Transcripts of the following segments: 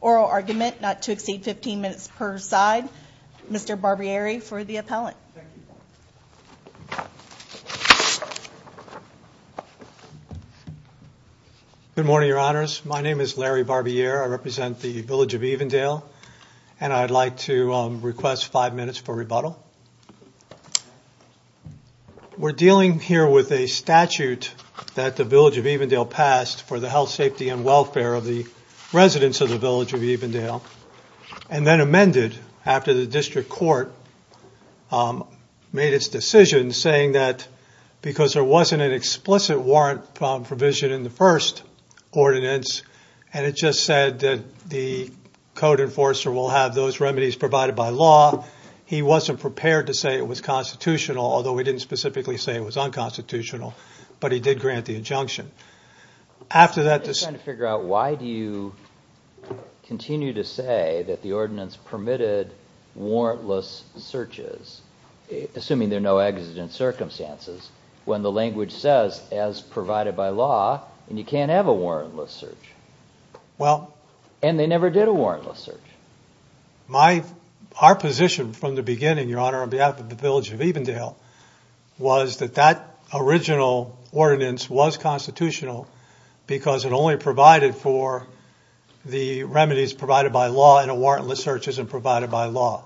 Oral argument not to exceed 15 minutes per side. Mr. Barbieri for the appellant. Good morning, your honors. My name is Larry Barbieri. I represent the village of Evendale. And I'd like to request five minutes for rebuttal. We're dealing here with a statute that the village of Evendale passed for the health, safety, and welfare of the residents of the village of Evendale. And then amended after the district court made its decision saying that because there wasn't an explicit warrant provision in the first ordinance and it just said that the code enforcer will have those remedies provided by law, he wasn't prepared to say it was constitutional, although he didn't specifically say it was unconstitutional, but he did grant the injunction. I'm just trying to figure out why do you continue to say that the ordinance permitted warrantless searches, assuming there are no exigent circumstances, when the language says, as provided by law, you can't have a warrantless search. And they never did a warrantless search. Our position from the beginning, your honor, on behalf of the village of Evendale, was that that original ordinance was constitutional because it only provided for the remedies provided by law and a warrantless search isn't provided by law.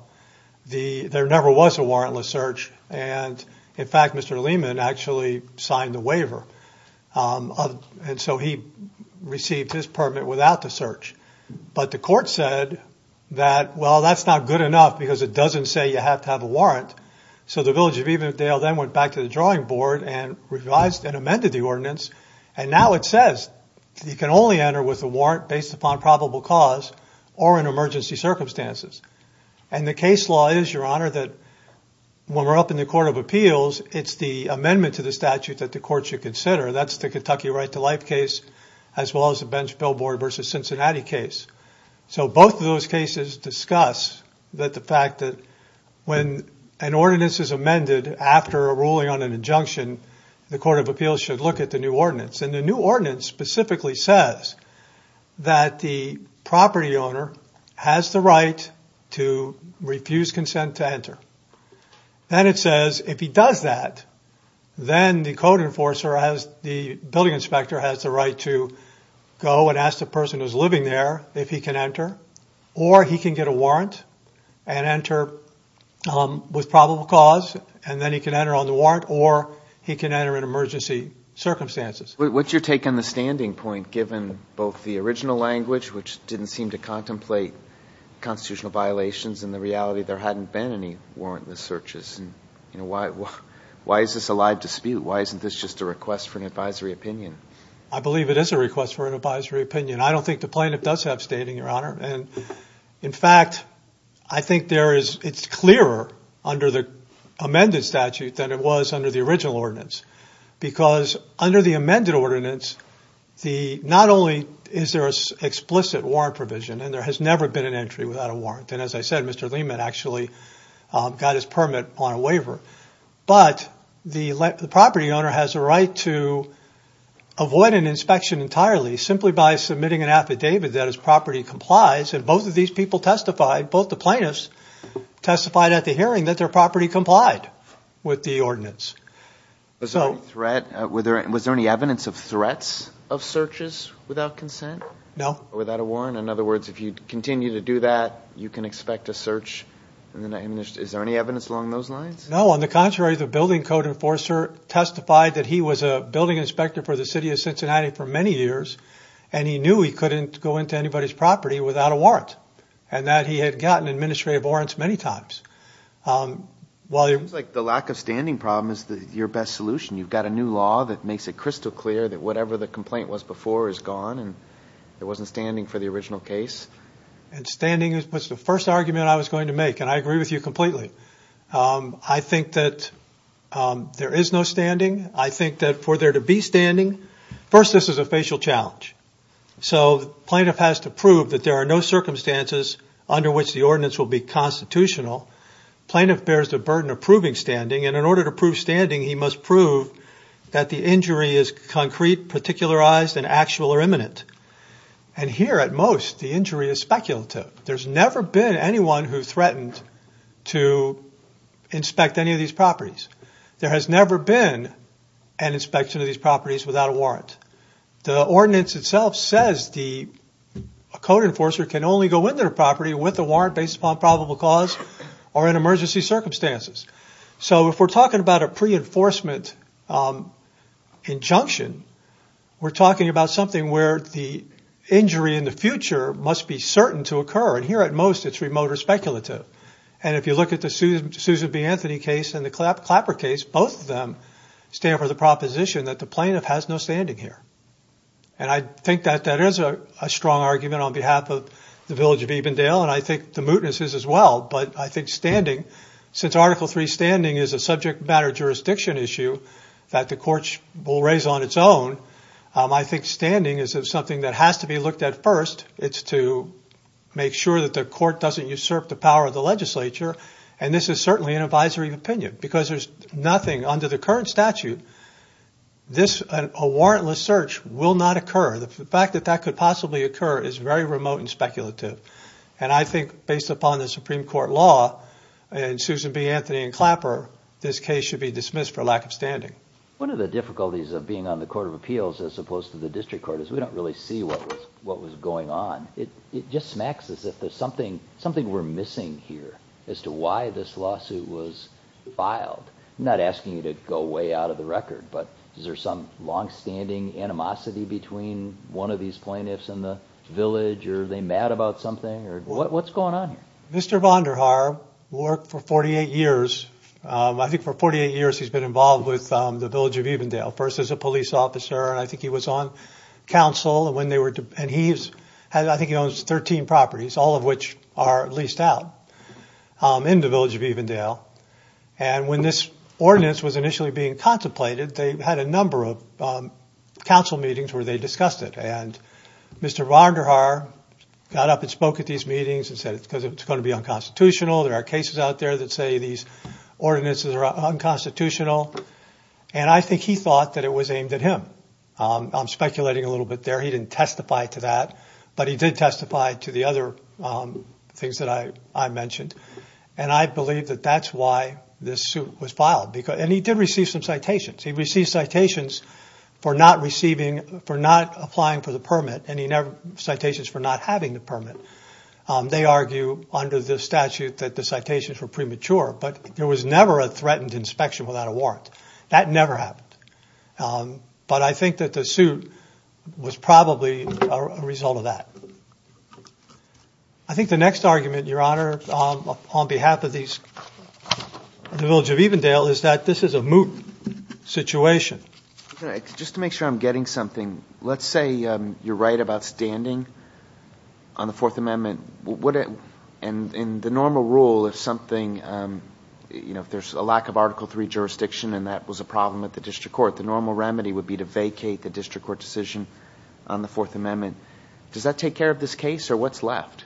There never was a warrantless search and, in fact, Mr. Lehman actually signed the waiver and so he received his permit without the search. But the court said that, well, that's not good enough because it doesn't say you have to have a warrant. So the village of Evendale then went back to the drawing board and revised and amended the ordinance and now it says you can only enter with a warrant based upon probable cause or in emergency circumstances. And the case law is, your honor, that when we're up in the Court of Appeals, it's the amendment to the statute that the court should consider. That's the Kentucky Right to Life case as well as the Bench Billboard v. Cincinnati case. So both of those cases discuss the fact that when an ordinance is amended after a ruling on an injunction, the Court of Appeals should look at the new ordinance. And the new ordinance specifically says that the property owner has the right to refuse consent to enter. Then it says if he does that, then the code enforcer, the building inspector, has the right to go and ask the person who's living there if he can enter or he can get a warrant and enter with probable cause and then he can enter on the warrant or he can enter in emergency circumstances. What's your take on the standing point given both the original language, which didn't seem to contemplate constitutional violations, and the reality there hadn't been any warrantless searches? Why is this a live dispute? Why isn't this just a request for an advisory opinion? I believe it is a request for an advisory opinion. I don't think the plaintiff does have standing, your honor. In fact, I think it's clearer under the amended statute than it was under the original ordinance. Because under the amended ordinance, not only is there an explicit warrant provision, and there has never been an entry without a warrant, and as I said, Mr. Lehman actually got his permit on a waiver. But the property owner has a right to avoid an inspection entirely simply by submitting an affidavit that his property complies. And both of these people testified, both the plaintiffs testified at the hearing that their property complied with the ordinance. Was there any evidence of threats of searches without consent? No. Without a warrant. In other words, if you continue to do that, you can expect a search. Is there any evidence along those lines? No. On the contrary, the building code enforcer testified that he was a building inspector for the city of Cincinnati for many years, and he knew he couldn't go into anybody's property without a warrant. And that he had gotten administrative warrants many times. It seems like the lack of standing problem is your best solution. You've got a new law that makes it crystal clear that whatever the complaint was before is gone, and there wasn't standing for the original case. And standing was the first argument I was going to make, and I agree with you completely. I think that there is no standing. I think that for there to be standing, first, this is a facial challenge. So the plaintiff has to prove that there are no circumstances under which the ordinance will be constitutional. Plaintiff bears the burden of proving standing, and in order to prove standing, he must prove that the injury is concrete, particularized, and actual or imminent. And here, at most, the injury is speculative. There's never been anyone who threatened to inspect any of these properties. There has never been an inspection of these properties without a warrant. The ordinance itself says a code enforcer can only go into their property with a warrant based upon probable cause or in emergency circumstances. So if we're talking about a pre-enforcement injunction, we're talking about something where the injury in the future must be certain to occur, and here, at most, it's remote or speculative. And if you look at the Susan B. Anthony case and the Clapper case, both of them stand for the proposition that the plaintiff has no standing here. And I think that that is a strong argument on behalf of the village of Evendale, and I think the mootness is as well. But I think standing, since Article III standing is a subject matter jurisdiction issue that the court will raise on its own, I think standing is something that has to be looked at first. It's to make sure that the court doesn't usurp the power of the legislature, and this is certainly an advisory opinion because there's nothing under the current statute. A warrantless search will not occur. The fact that that could possibly occur is very remote and speculative. And I think based upon the Supreme Court law and Susan B. Anthony and Clapper, this case should be dismissed for lack of standing. One of the difficulties of being on the Court of Appeals as opposed to the District Court is we don't really see what was going on. It just smacks us that there's something we're missing here as to why this lawsuit was filed. I'm not asking you to go way out of the record, but is there some longstanding animosity between one of these plaintiffs and the village, or are they mad about something? What's going on here? Mr. Vonderhaar worked for 48 years. I think for 48 years he's been involved with the village of Evendale, first as a police officer. I think he was on council, and I think he owns 13 properties, all of which are leased out in the village of Evendale. And when this ordinance was initially being contemplated, they had a number of council meetings where they discussed it. And Mr. Vonderhaar got up and spoke at these meetings and said it's going to be unconstitutional. There are cases out there that say these ordinances are unconstitutional. And I think he thought that it was aimed at him. I'm speculating a little bit there. He didn't testify to that, but he did testify to the other things that I mentioned. And I believe that that's why this suit was filed. And he did receive some citations. He received citations for not applying for the permit and citations for not having the permit. They argue under the statute that the citations were premature, but there was never a threatened inspection without a warrant. That never happened. But I think that the suit was probably a result of that. I think the next argument, Your Honor, on behalf of the village of Evendale is that this is a moot situation. Just to make sure I'm getting something, let's say you're right about standing on the Fourth Amendment. And in the normal rule, if there's a lack of Article III jurisdiction and that was a problem at the district court, the normal remedy would be to vacate the district court decision on the Fourth Amendment. Does that take care of this case or what's left?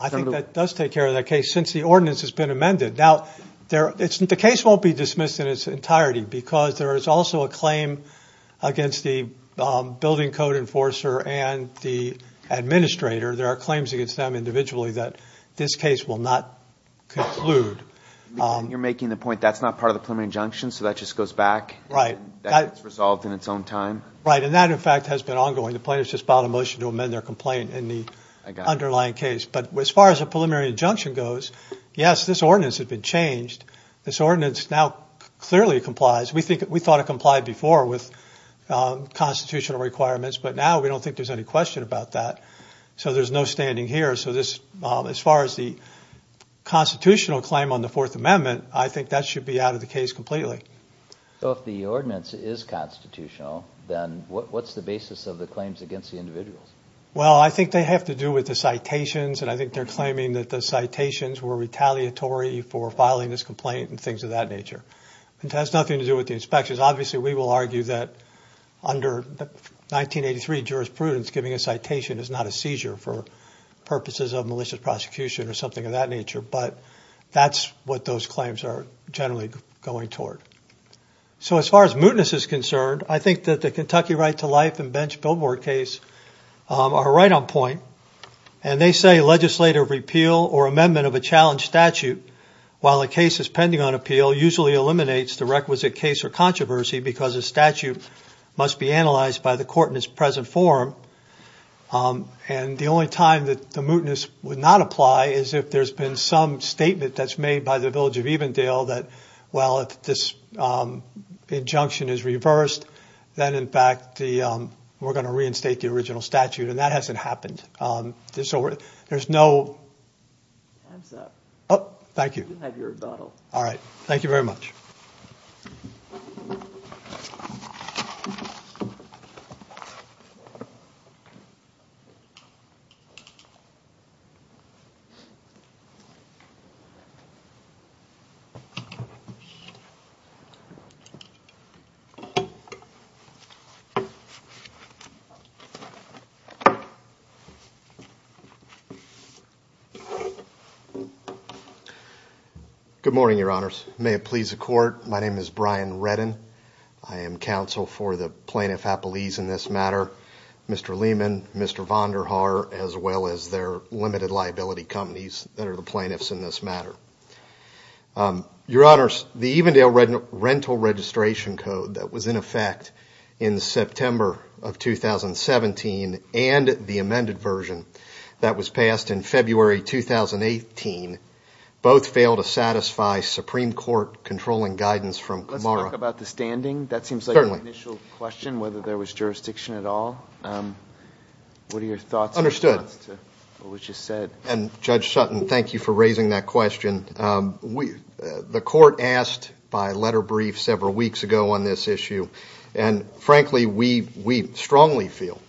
I think that does take care of that case since the ordinance has been amended. Now, the case won't be dismissed in its entirety because there is also a claim against the building code enforcer and the administrator. There are claims against them individually that this case will not conclude. You're making the point that's not part of the preliminary injunction, so that just goes back? Right. That gets resolved in its own time? Right. And that, in fact, has been ongoing. The plaintiffs just filed a motion to amend their complaint in the underlying case. But as far as the preliminary injunction goes, yes, this ordinance has been changed. This ordinance now clearly complies. We thought it complied before with constitutional requirements, but now we don't think there's any question about that. So there's no standing here. So as far as the constitutional claim on the Fourth Amendment, I think that should be out of the case completely. So if the ordinance is constitutional, then what's the basis of the claims against the individuals? Well, I think they have to do with the citations, and I think they're claiming that the citations were retaliatory for filing this complaint and things of that nature. It has nothing to do with the inspections. Obviously, we will argue that under 1983 jurisprudence, giving a citation is not a seizure for purposes of malicious prosecution or something of that nature. But that's what those claims are generally going toward. So as far as mootness is concerned, I think that the Kentucky right to life and bench billboard case are right on point. And they say legislative repeal or amendment of a challenge statute, while a case is pending on appeal, usually eliminates the requisite case or controversy because a statute must be analyzed by the court in its present form. And the only time that the mootness would not apply is if there's been some statement that's made by the village of Evendale that, well, if this injunction is reversed, then, in fact, we're going to reinstate the original statute. And that hasn't happened. So there's no. Thank you. All right. Thank you very much. Thank you. Good morning, Your Honors. May it please the court, my name is Brian Redden. I am counsel for the Plaintiff Appellees in this matter. Mr. Lehman, Mr. Vonderhaar, as well as their limited liability companies that are the plaintiffs in this matter. Your Honors, the Evendale Rental Registration Code that was in effect in September of 2017 and the amended version that was passed in February 2018, both failed to satisfy Supreme Court controlling guidance from Camara. Let's talk about the standing. Certainly. I have an initial question whether there was jurisdiction at all. What are your thoughts? Understood. What was just said. And Judge Sutton, thank you for raising that question. The court asked by letter brief several weeks ago on this issue. And, frankly, we strongly feel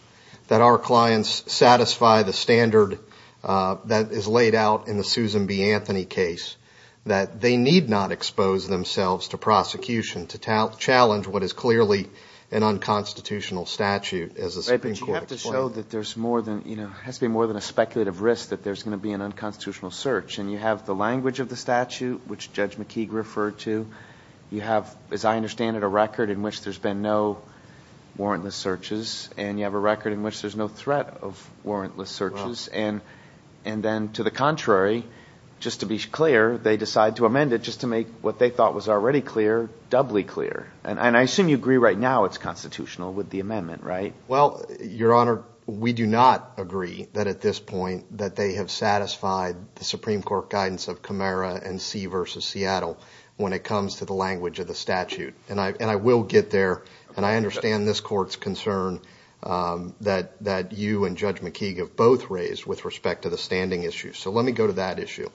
that our clients satisfy the standard that is laid out in the Susan B. Anthony case, that they need not expose themselves to prosecution to challenge what is clearly an unconstitutional statute, as the Supreme Court explained. Right, but you have to show that there's more than, you know, has to be more than a speculative risk that there's going to be an unconstitutional search. And you have the language of the statute, which Judge McKeague referred to. You have, as I understand it, a record in which there's been no warrantless searches. And you have a record in which there's no threat of warrantless searches. And then, to the contrary, just to be clear, they decide to amend it just to make what they thought was already clear doubly clear. And I assume you agree right now it's constitutional with the amendment, right? Well, Your Honor, we do not agree that at this point that they have satisfied the Supreme Court guidance of Camara and C v. Seattle when it comes to the language of the statute. And I will get there. And I understand this court's concern that you and Judge McKeague have both raised with respect to the standing issue. So let me go to that issue.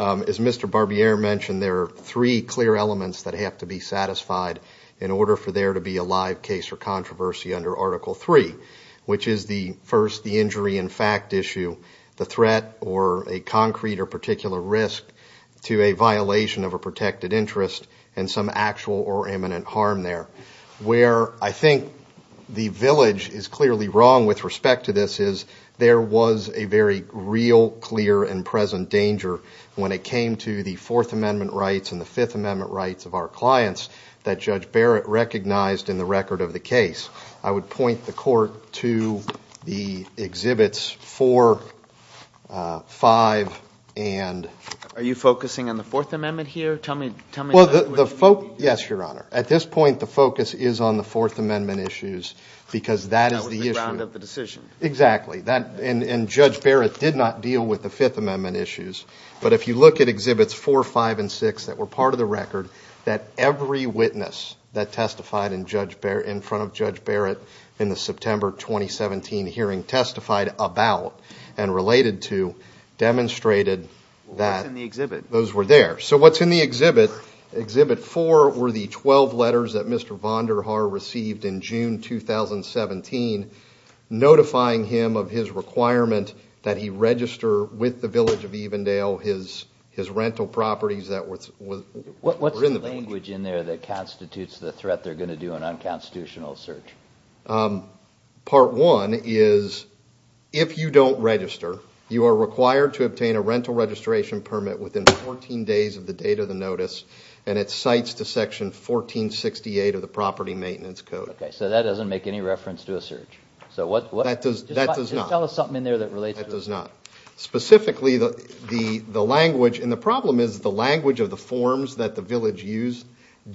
As Mr. Barbier mentioned, there are three clear elements that have to be satisfied in order for there to be a live case or controversy under Article 3, which is the first, the injury in fact issue, the threat or a concrete or particular risk to a violation of a protected interest and some actual or imminent harm there. Where I think the village is clearly wrong with respect to this is there was a very real, clear, and present danger when it came to the Fourth Amendment rights and the Fifth Amendment rights of our clients that Judge Barrett recognized in the record of the case. I would point the court to the exhibits 4, 5 and. Are you focusing on the Fourth Amendment here? Tell me. Well, the folk. Yes, Your Honor. At this point, the focus is on the Fourth Amendment issues because that is the issue of the decision. Exactly. And Judge Barrett did not deal with the Fifth Amendment issues. But if you look at exhibits 4, 5 and 6 that were part of the record, that every witness that testified in front of Judge Barrett in the September 2017 hearing testified about and related to demonstrated that those were there. What's in the exhibit? Exhibit 4 were the 12 letters that Mr. Vonderhaar received in June 2017, notifying him of his requirement that he register with the village of Evendale, his rental properties that were in the village. What's the language in there that constitutes the threat they're going to do an unconstitutional search? Part one is if you don't register, you are required to obtain a rental registration permit within 14 days of the date of the notice. And it cites to Section 1468 of the property maintenance code. OK, so that doesn't make any reference to a search. So what that does, that does not tell us something in there that relates. Specifically, the language and the problem is the language of the forms that the village used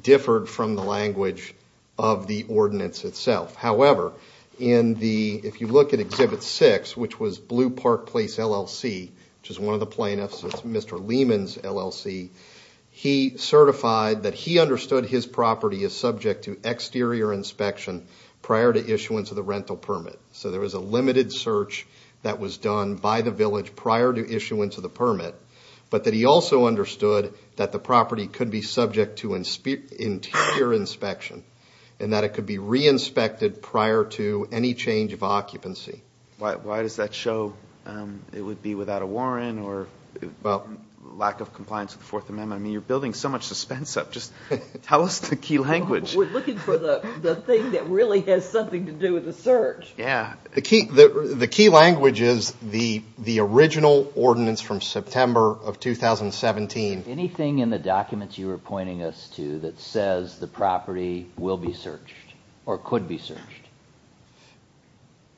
differed from the language of the ordinance itself. However, if you look at exhibit 6, which was Blue Park Place LLC, which is one of the plaintiffs, it's Mr. Lehman's LLC. He certified that he understood his property is subject to exterior inspection prior to issuance of the rental permit. So there was a limited search that was done by the village prior to issuance of the permit. But that he also understood that the property could be subject to interior inspection and that it could be re-inspected prior to any change of occupancy. Why does that show it would be without a warrant or lack of compliance with the Fourth Amendment? I mean, you're building so much suspense up. Just tell us the key language. We're looking for the thing that really has something to do with the search. Yeah. The key language is the original ordinance from September of 2017. Anything in the documents you were pointing us to that says the property will be searched or could be searched?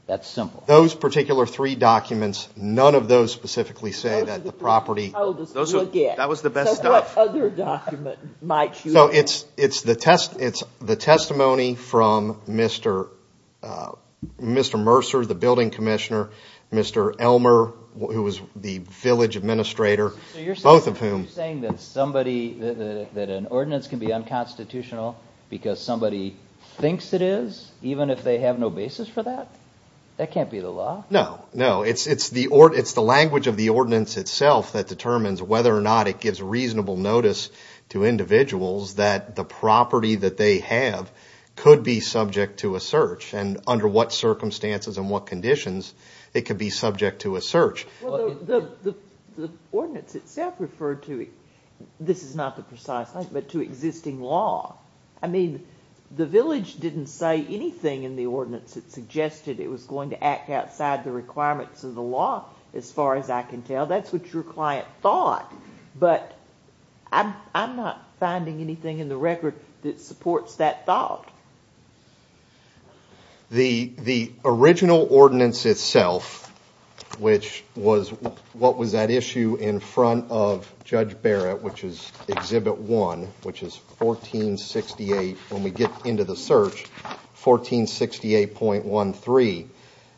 That's simple. Those particular three documents, none of those specifically say that the property... That was the best stuff. So what other document might you... It's the testimony from Mr. Mercer, the building commissioner, Mr. Elmer, who was the village administrator, both of whom... So you're saying that an ordinance can be unconstitutional because somebody thinks it is, even if they have no basis for that? That can't be the law. No, no. It's the language of the ordinance itself that determines whether or not it gives reasonable notice to individuals that the property that they have could be subject to a search, and under what circumstances and what conditions it could be subject to a search. The ordinance itself referred to, this is not the precise link, but to existing law. I mean, the village didn't say anything in the ordinance that suggested it was going to act outside the requirements of the law, as far as I can tell. That's what your client thought, but I'm not finding anything in the record that supports that thought. The original ordinance itself, which was... What was that issue in front of Judge Barrett, which is Exhibit 1, which is 1468... When we get into the search, 1468.13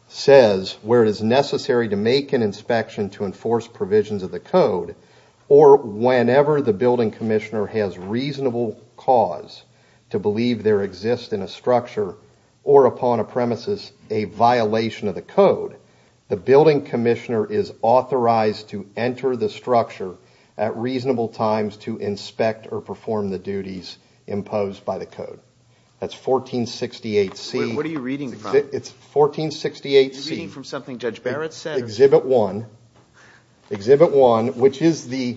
says, where it is necessary to make an inspection to enforce provisions of the code, or whenever the building commissioner has reasonable cause to believe there exists in a structure, or upon a premises, a violation of the code, the building commissioner is authorized to enter the structure at reasonable times to inspect or perform the duties imposed by the code. That's 1468C. What are you reading? It's 1468C. Are you reading from something Judge Barrett said? Exhibit 1. Exhibit 1, which is the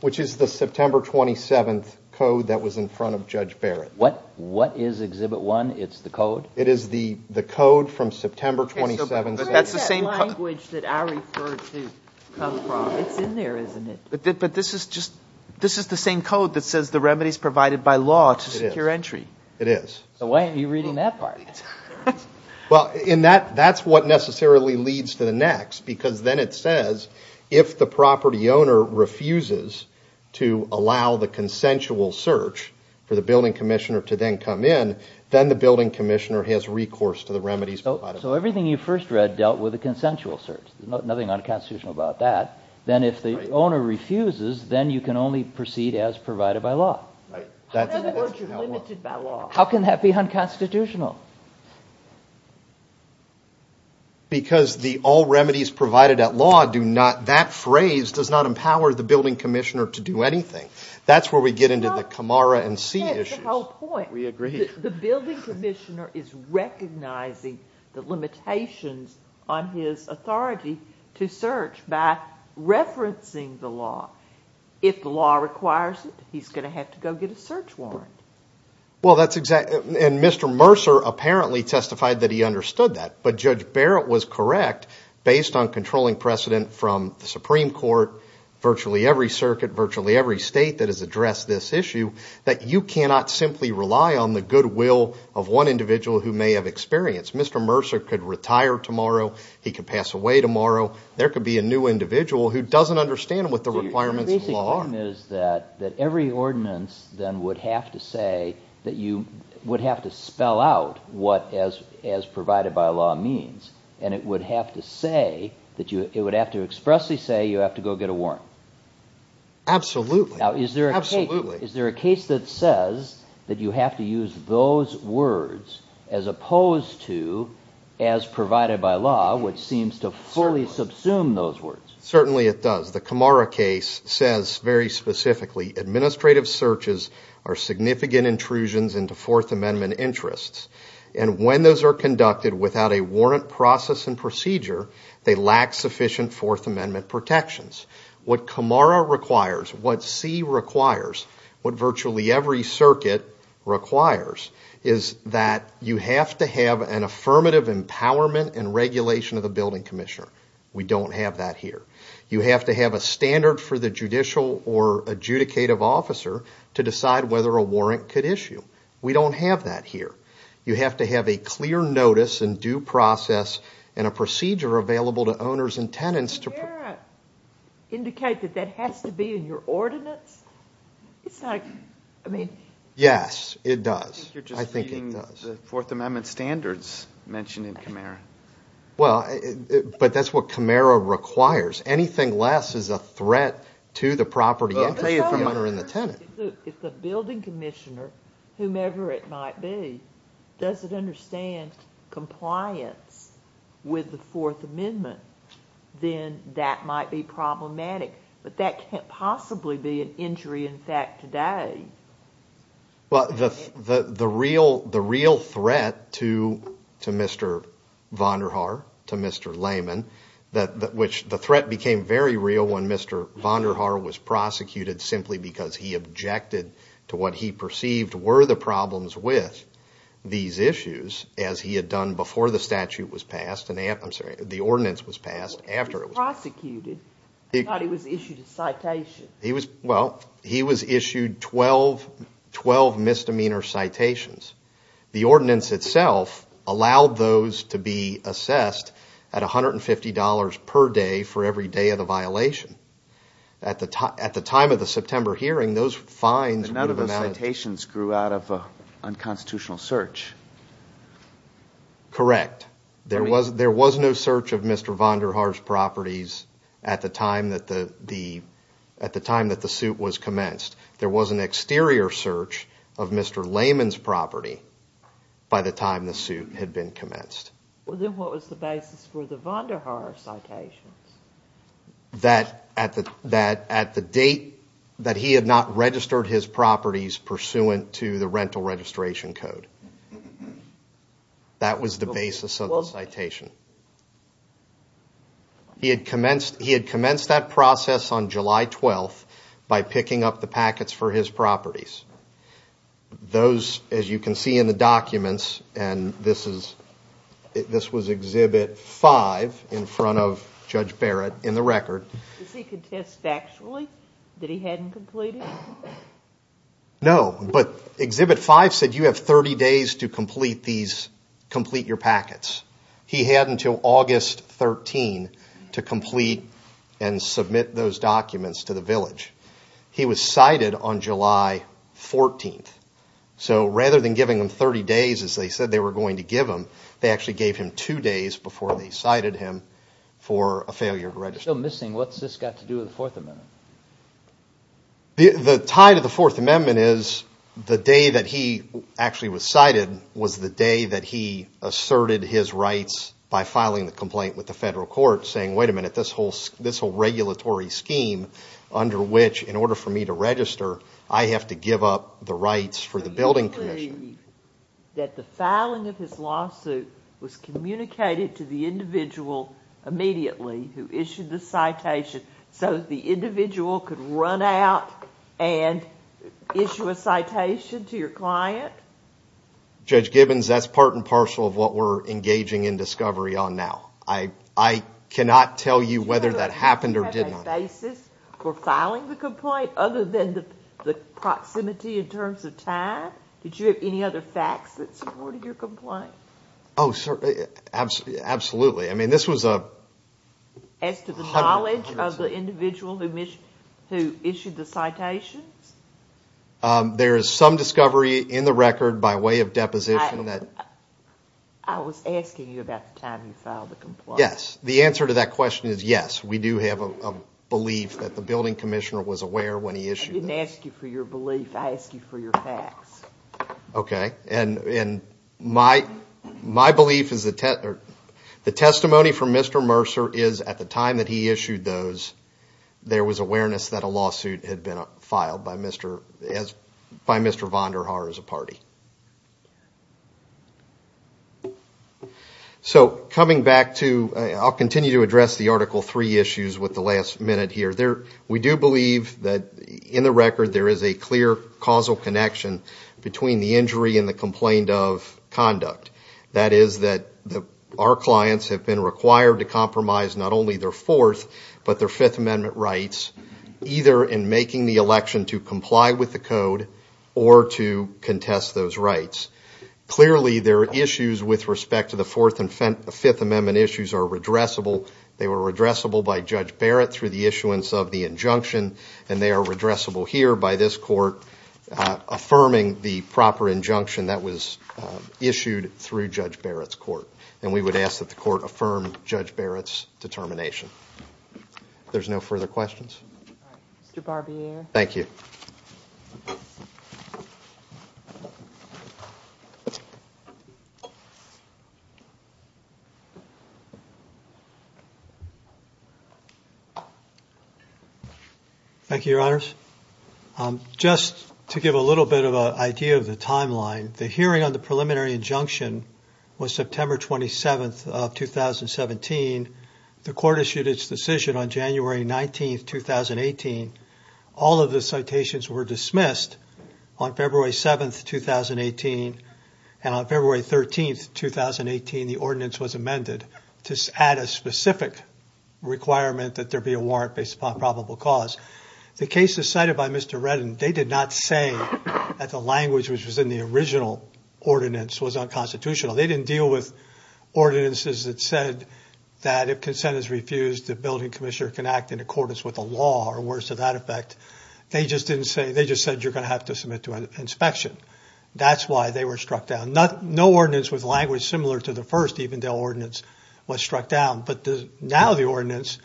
September 27th code that was in front of Judge Barrett. What is Exhibit 1? It's the code? It is the code from September 27th. Okay, so where is that language that I referred to come from? It's in there, isn't it? But this is just, this is the same code that says the remedy is provided by law to secure entry. It is. So why aren't you reading that part? Well, that's what necessarily leads to the next, because then it says, if the property owner refuses to allow the consensual search for the building commissioner to then come in, then the building commissioner has recourse to the remedies provided by law. So everything you first read dealt with a consensual search. There's nothing unconstitutional about that. Then if the owner refuses, then you can only proceed as provided by law. Right. How can that be unconstitutional? Because the all remedies provided at law do not, that phrase does not empower the building commissioner to do anything. That's where we get into the Camara and C issues. Yeah, that's the whole point. We agree. The building commissioner is recognizing the limitations on his authority to search by referencing the law. If the law requires it, he's going to have to go get a search warrant. Well, that's exactly, and Mr. Mercer apparently testified that he understood that. But Judge Barrett was correct, based on controlling precedent from the Supreme Court, virtually every circuit, virtually every state that has addressed this issue, that you cannot simply rely on the goodwill of one individual who may have experience. Mr. Mercer could retire tomorrow. He could pass away tomorrow. There could be a new individual who doesn't understand what the requirements of the law are. The basic thing is that every ordinance then would have to say that you would have to spell out what as provided by law means, and it would have to expressly say you have to go get a warrant. Absolutely. Now, is there a case that says that you have to use those words as opposed to as provided by law, which seems to fully subsume those words? Certainly it does. The Camara case says very specifically, administrative searches are significant intrusions into Fourth Amendment interests, and when those are conducted without a warrant process and procedure, they lack sufficient Fourth Amendment protections. What Camara requires, what C requires, what virtually every circuit requires, is that you have to have an affirmative empowerment and regulation of the building commissioner. We don't have that here. You have to have a standard for the judicial or adjudicative officer to decide whether a warrant could issue. We don't have that here. You have to have a clear notice and due process and a procedure available to owners and tenants to Does Camara indicate that that has to be in your ordinance? It's not, I mean Yes, it does. I think it does. I think you're just reading the Fourth Amendment standards mentioned in Camara. Well, but that's what Camara requires. Anything less is a threat to the property interest of the owner and the tenant. If the building commissioner, whomever it might be, doesn't understand compliance with the Fourth Amendment, then that might be problematic. But that can't possibly be an injury in fact today. Well, the real threat to Mr. Vonderhaar, to Mr. Lehman, which the threat became very real when Mr. Vonderhaar was prosecuted simply because he objected to what he perceived were the problems with these issues, as he had done before the statute was passed, I'm sorry, the ordinance was passed after it was passed. He was prosecuted. I thought he was issued a citation. Well, he was issued 12 misdemeanor citations. The ordinance itself allowed those to be assessed at $150 per day for every day of the violation. At the time of the September hearing, those fines would have been added. None of those citations grew out of an unconstitutional search. Correct. There was no search of Mr. Vonderhaar's properties at the time that the suit was commenced. There was an exterior search of Mr. Lehman's property by the time the suit had been commenced. Well, then what was the basis for the Vonderhaar citations? That at the date that he had not registered his properties pursuant to the rental registration code. That was the basis of the citation. He had commenced that process on July 12th by picking up the packets for his properties. Those, as you can see in the documents, and this was Exhibit 5 in front of Judge Barrett in the record. Does he contest factually that he hadn't completed? No, but Exhibit 5 said you have 30 days to complete your packets. He had until August 13th to complete and submit those documents to the village. He was cited on July 14th, so rather than giving him 30 days as they said they were going to give him, they actually gave him two days before they cited him for a failure to register. If he's still missing, what's this got to do with the Fourth Amendment? The tie to the Fourth Amendment is the day that he actually was cited was the day that he asserted his rights by filing the complaint with the federal court saying, wait a minute, this whole regulatory scheme under which in order for me to register, I have to give up the rights for the building commission. Do you believe that the filing of his lawsuit was communicated to the individual immediately who issued the citation so the individual could run out and issue a citation to your client? Judge Gibbons, that's part and parcel of what we're engaging in discovery on now. I cannot tell you whether that happened or did not. Did you have a basis for filing the complaint other than the proximity in terms of time? Did you have any other facts that supported your complaint? Oh, absolutely. I mean, this was a- As to the knowledge of the individual who issued the citations? There is some discovery in the record by way of deposition that- I was asking you about the time you filed the complaint. Yes. The answer to that question is yes. We do have a belief that the building commissioner was aware when he issued this. I didn't ask you for your belief. I asked you for your facts. Okay. And my belief is the testimony from Mr. Mercer is at the time that he issued those, there was awareness that a lawsuit had been filed by Mr. Vonderhaar as a party. So coming back to- I'll continue to address the Article III issues with the last minute here. We do believe that in the record there is a clear causal connection between the injury and the complaint of conduct. That is that our clients have been required to compromise not only their Fourth but their Fifth Amendment rights, either in making the election to comply with the code or to contest those rights. Clearly, their issues with respect to the Fourth and Fifth Amendment issues are redressable. They were redressable by Judge Barrett through the issuance of the injunction, and they are redressable here by this court affirming the proper injunction that was issued through Judge Barrett's court. And we would ask that the court affirm Judge Barrett's determination. If there's no further questions. All right. Mr. Barbier. Thank you. Thank you, Your Honors. Just to give a little bit of an idea of the timeline, the hearing on the preliminary injunction was September 27th of 2017. The court issued its decision on January 19th, 2018. All of the citations were dismissed on February 7th, 2018, and on February 13th, 2018, the ordinance was amended to add a specific requirement that there be a warrant based upon probable cause. The cases cited by Mr. Reddin, they did not say that the language which was in the original ordinance was unconstitutional. They didn't deal with ordinances that said that if consent is refused, the building commissioner can act in accordance with the law or worse to that effect. They just didn't say, they just said you're going to have to submit to an inspection. That's why they were struck down. No ordinance with language similar to the first Evendell ordinance was struck down, but now the ordinance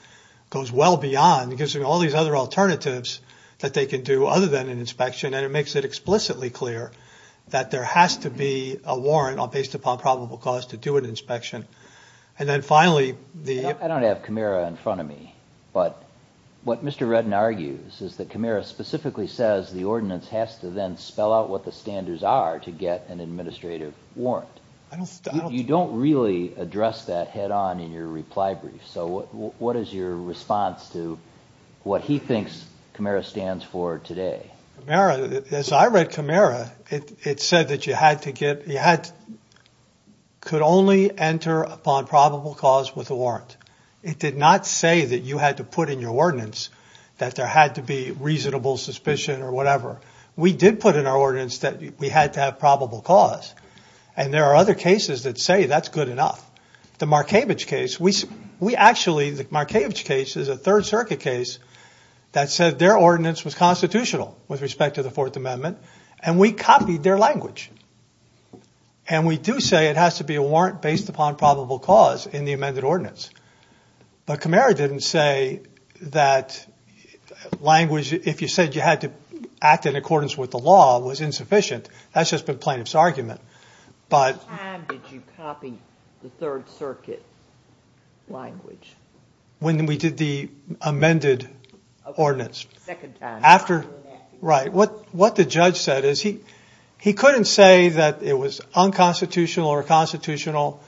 goes well beyond. It gives them all these other alternatives that they can do other than an inspection, and it makes it explicitly clear that there has to be a warrant based upon probable cause to do an inspection. And then finally, the- I don't have Camara in front of me, but what Mr. Reddin argues is that Camara specifically says the ordinance has to then spell out what the standards are to get an administrative warrant. You don't really address that head on in your reply brief, so what is your response to what he thinks Camara stands for today? Camara, as I read Camara, it said that you had to get- you could only enter upon probable cause with a warrant. It did not say that you had to put in your ordinance that there had to be reasonable suspicion or whatever. We did put in our ordinance that we had to have probable cause, and there are other cases that say that's good enough. The Markavich case, we actually- the Markavich case is a Third Circuit case that said their ordinance was constitutional with respect to the Fourth Amendment, and we copied their language. And we do say it has to be a warrant based upon probable cause in the amended ordinance, but Camara didn't say that language- if you said you had to act in accordance with the law was insufficient. That's just the plaintiff's argument, but- What time did you copy the Third Circuit language? When we did the amended ordinance. Second time. After- Right. What the judge said is he couldn't say that it was unconstitutional or constitutional,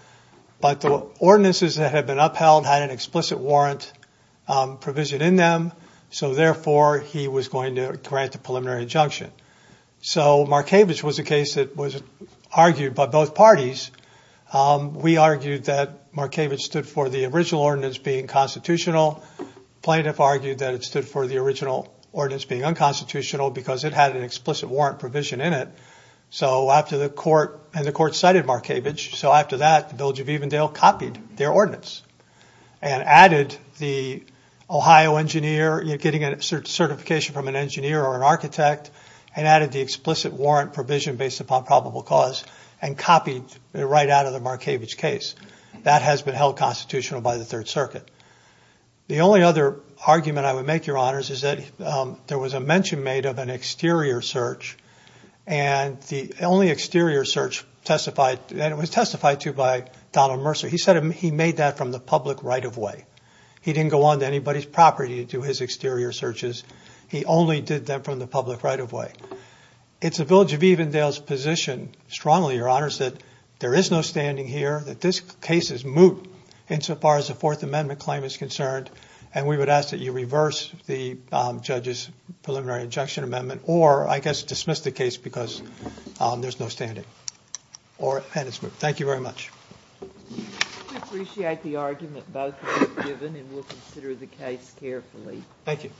but the ordinances that had been upheld had an explicit warrant provision in them, so therefore he was going to grant a preliminary injunction. So Markavich was a case that was argued by both parties. We argued that Markavich stood for the original ordinance being constitutional. Plaintiff argued that it stood for the original ordinance being unconstitutional because it had an explicit warrant provision in it. So after the court- and the court cited Markavich, so after that, the Bilge of Evendale copied their ordinance and added the Ohio engineer getting a certification from an engineer or an architect and added the explicit warrant provision based upon probable cause and copied it right out of the Markavich case. That has been held constitutional by the Third Circuit. The only other argument I would make, Your Honors, is that there was a mention made of an exterior search and the only exterior search testified, and it was testified to by Donald Mercer, he said he made that from the public right-of-way. He didn't go on to anybody's property to do his exterior searches. He only did that from the public right-of-way. It's the Bilge of Evendale's position, strongly, Your Honors, that there is no standing here, that this case is moot insofar as the Fourth Amendment claim is concerned, and we would ask that you reverse the judge's preliminary injunction amendment or, I guess, dismiss the case because there's no standing. Thank you very much. We appreciate the argument both have given, and we'll consider the case carefully. Thank you.